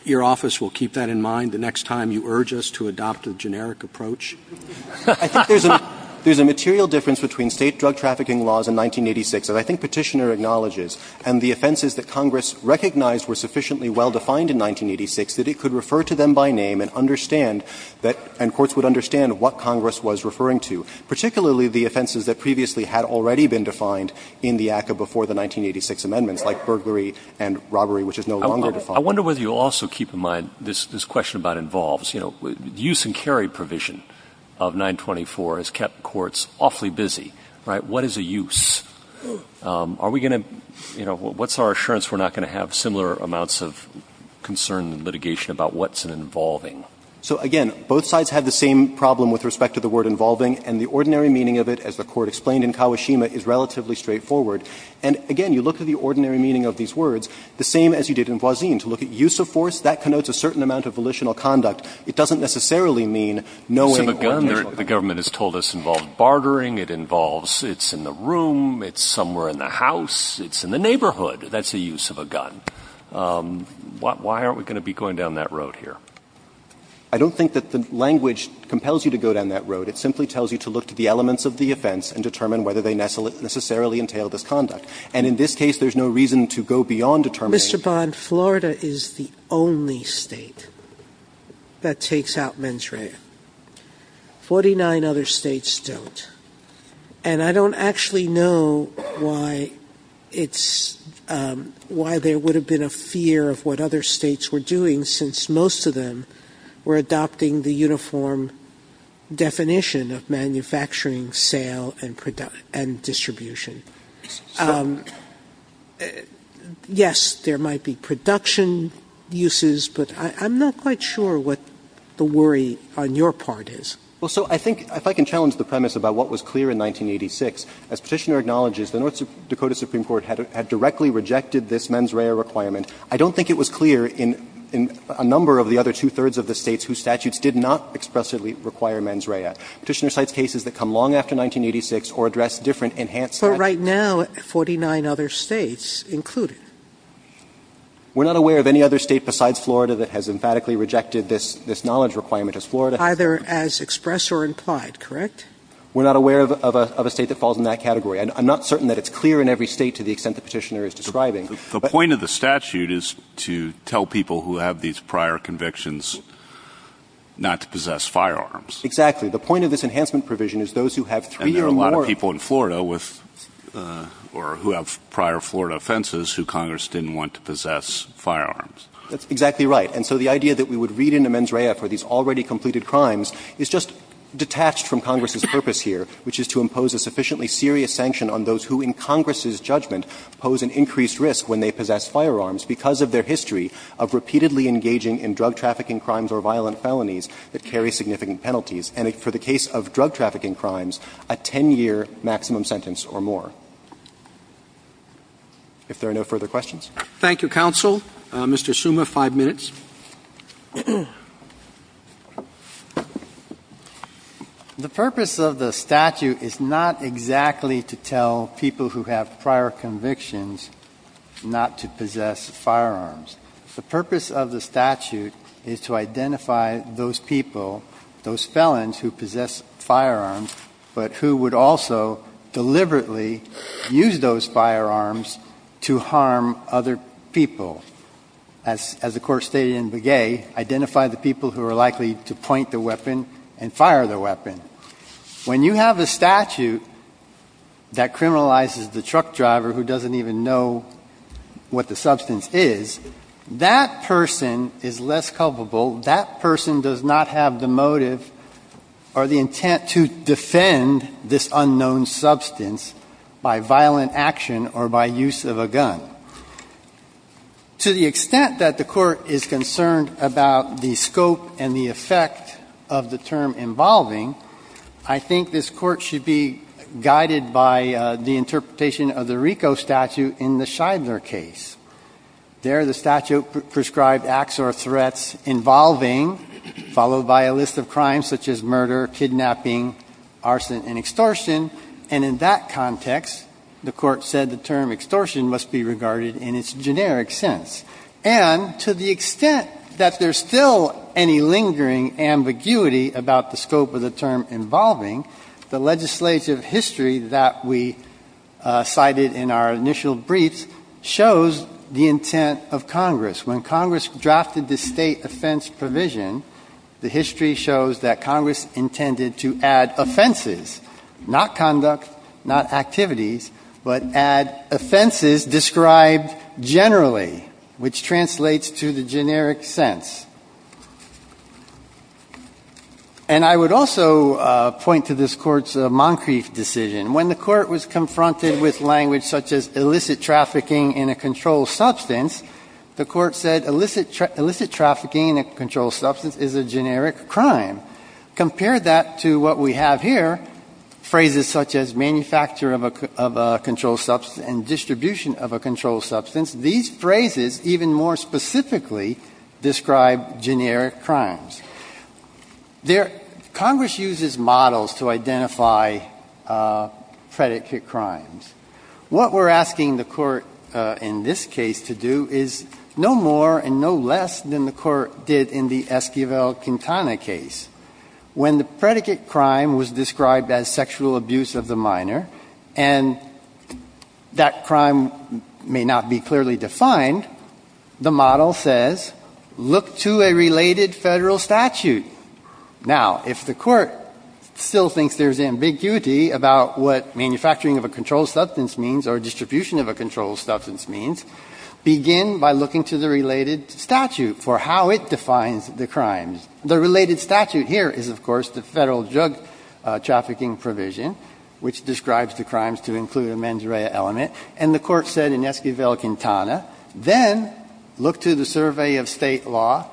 Your office will keep that in mind the next time you urge us to adopt a generic approach? Alitoson I think there's a – there's a material difference between State drug trafficking laws in 1986 that I think Petitioner acknowledges, and the offenses that Congress recognized were sufficiently well-defined in 1986 that it could refer to them by name and understand that – and courts would understand what Congress was referring to, particularly the offenses that previously had already been defined in the ACCA before the 1986 amendments, like burglary and robbery, which is no longer defined. Roberts I wonder whether you'll also keep in mind this question about involves – you know, the use and carry provision of 924 has kept courts awfully busy, right? What is a use? Are we going to – you know, what's our assurance we're not going to have similar amounts of concern and litigation about what's an involving? Alitoson So again, both sides have the same problem with respect to the word involving, and the ordinary meaning of it, as the Court explained in Kawashima, is relatively straightforward. And again, you look at the ordinary meaning of these words, the same as you did in Boisil, to look at use of force, that connotes a certain amount of volitional conduct. It doesn't necessarily mean knowing or – Breyer The government has told us involved bartering, it involves – it's in the home, it's somewhere in the house, it's in the neighborhood, that's the use of a gun. Why aren't we going to be going down that road here? Alitoson I don't think that the language compels you to go down that road. It simply tells you to look to the elements of the offense and determine whether they necessarily entail this conduct. And in this case, there's no reason to go beyond determining – Sotomayor Mr. Bond, Florida is the only State that takes out mens rea. Forty-nine other States don't. And I don't actually know why it's – why there would have been a fear of what other States were doing, since most of them were adopting the uniform definition of manufacturing, sale, and production – and distribution. Yes, there might be production uses, but I'm not quite sure what the worry on your part is. Well, so I think – if I can challenge the premise about what was clear in 1986, as Petitioner acknowledges, the North Dakota Supreme Court had directly rejected this mens rea requirement. I don't think it was clear in a number of the other two-thirds of the States whose statutes did not expressly require mens rea. Petitioner cites cases that come long after 1986 or address different enhanced statutes. Sotomayor But right now, 49 other States include it. Alitoson We're not aware of any other State besides Florida that has emphatically rejected this knowledge requirement as Florida. Sotomayor Either as expressed or implied, correct? Alitoson We're not aware of a State that falls in that category. I'm not certain that it's clear in every State to the extent that Petitioner is describing. But – Kennedy The point of the statute is to tell people who have these prior convictions not to possess firearms. Alitoson Exactly. The point of this enhancement provision is those who have three or more – Kennedy And there are a lot of people in Florida with – or who have prior Florida offenses who Congress didn't want to possess firearms. Alitoson That's exactly right. And so the idea that we would read into mens rea for these already completed crimes is just detached from Congress's purpose here, which is to impose a sufficiently serious sanction on those who, in Congress's judgment, pose an increased risk when they possess firearms because of their history of repeatedly engaging in drug trafficking crimes or violent felonies that carry significant penalties, and for the case of drug trafficking crimes, a 10-year maximum sentence or more. If there are no further questions. Roberts Thank you, counsel. Mr. Summa, five minutes. Mr. Summa The purpose of the statute is not exactly to tell people who have prior convictions not to possess firearms. The purpose of the statute is to identify those people, those felons who possess firearms, but who would also deliberately use those firearms to harm other people. As the Court stated in Begay, identify the people who are likely to point the weapon and fire the weapon. When you have a statute that criminalizes the truck driver who doesn't even know what the substance is, that person is less culpable. That person does not have the motive or the intent to defend this unknown substance by violent action or by use of a gun. So to the extent that the Court is concerned about the scope and the effect of the term involving, I think this Court should be guided by the interpretation of the RICO statute in the Scheidler case. There, the statute prescribed acts or threats involving, followed by a list of crimes such as murder, kidnapping, arson, and extortion, and in that context, the Court said the term extortion must be regarded in its generic sense. And to the extent that there's still any lingering ambiguity about the scope of the term involving, the legislative history that we cited in our initial briefs shows the intent of Congress. When Congress drafted the State offense provision, the history shows that Congress intended to add offenses, not conduct, not activities, but add offenses described generally, which translates to the generic sense. And I would also point to this Court's Moncrief decision. When the Court was confronted with language such as illicit trafficking in a controlled substance, the Court said illicit trafficking in a controlled substance is a generic crime. Compare that to what we have here, phrases such as manufacture of a controlled substance and distribution of a controlled substance. These phrases even more specifically describe generic crimes. There, Congress uses models to identify predicate crimes. What we're asking the Court in this case to do is no more and no less than the Court did in the Esquivel-Quintana case. When the predicate crime was described as sexual abuse of the minor, and that crime may not be clearly defined, the model says, look to a related Federal statute. Now, if the Court still thinks there's ambiguity about what manufacturing of a controlled substance means or distribution of a controlled substance means, begin by looking to the related statute for how it defines the crimes. The related statute here is, of course, the Federal drug trafficking provision, which describes the crimes to include a mens rea element. And the Court said in Esquivel-Quintana, then look to the survey of State law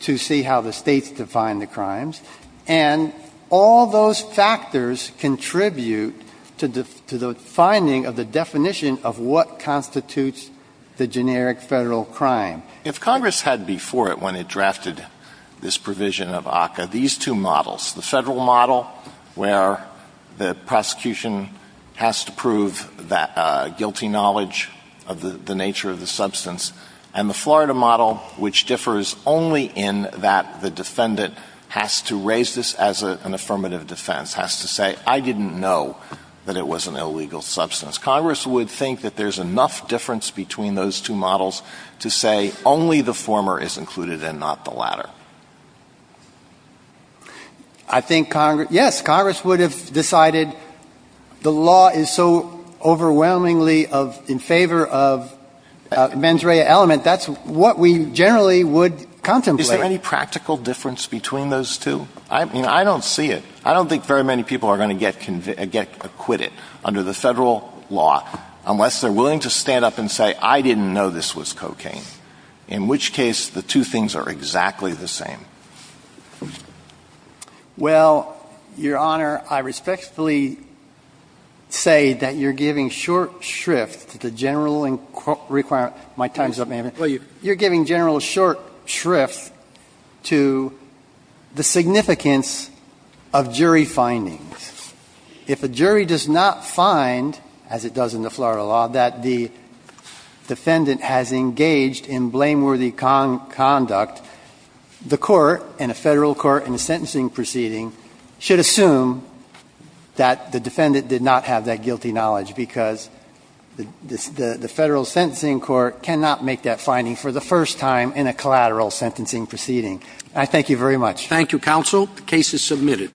to see how the States define the crimes, and all those factors contribute to the finding of the definition of what constitutes the generic Federal crime. If Congress had before it, when it drafted this provision of ACCA, these two models, the Federal model where the prosecution has to prove that guilty knowledge of the nature of the substance, and the Florida model, which differs only in that the defendant has to raise this as an affirmative defense, has to say, I didn't know that it was an illegal substance, Congress would think that there's enough difference between those two models to say only the former is included and not the latter. I think Congress — yes, Congress would have decided the law is so overwhelmingly of — in favor of mens rea element, that's what we generally would contemplate. Is there any practical difference between those two? I mean, I don't see it. I don't think very many people are going to get acquitted under the Federal law unless they're willing to stand up and say, I didn't know this was cocaine, in which case the two things are exactly the same. Well, Your Honor, I respectfully say that you're giving short shrift to the general requirement — my time's up, ma'am — you're giving general short shrift to the significance of jury findings. If a jury does not find, as it does in the Florida law, that the defendant has engaged in blameworthy conduct, the court, and a Federal court in a sentencing proceeding, should assume that the defendant did not have that guilty knowledge, because the Federal sentencing court cannot make that finding for the first time in a collateral sentencing proceeding. I thank you very much. Thank you, counsel. The case is submitted.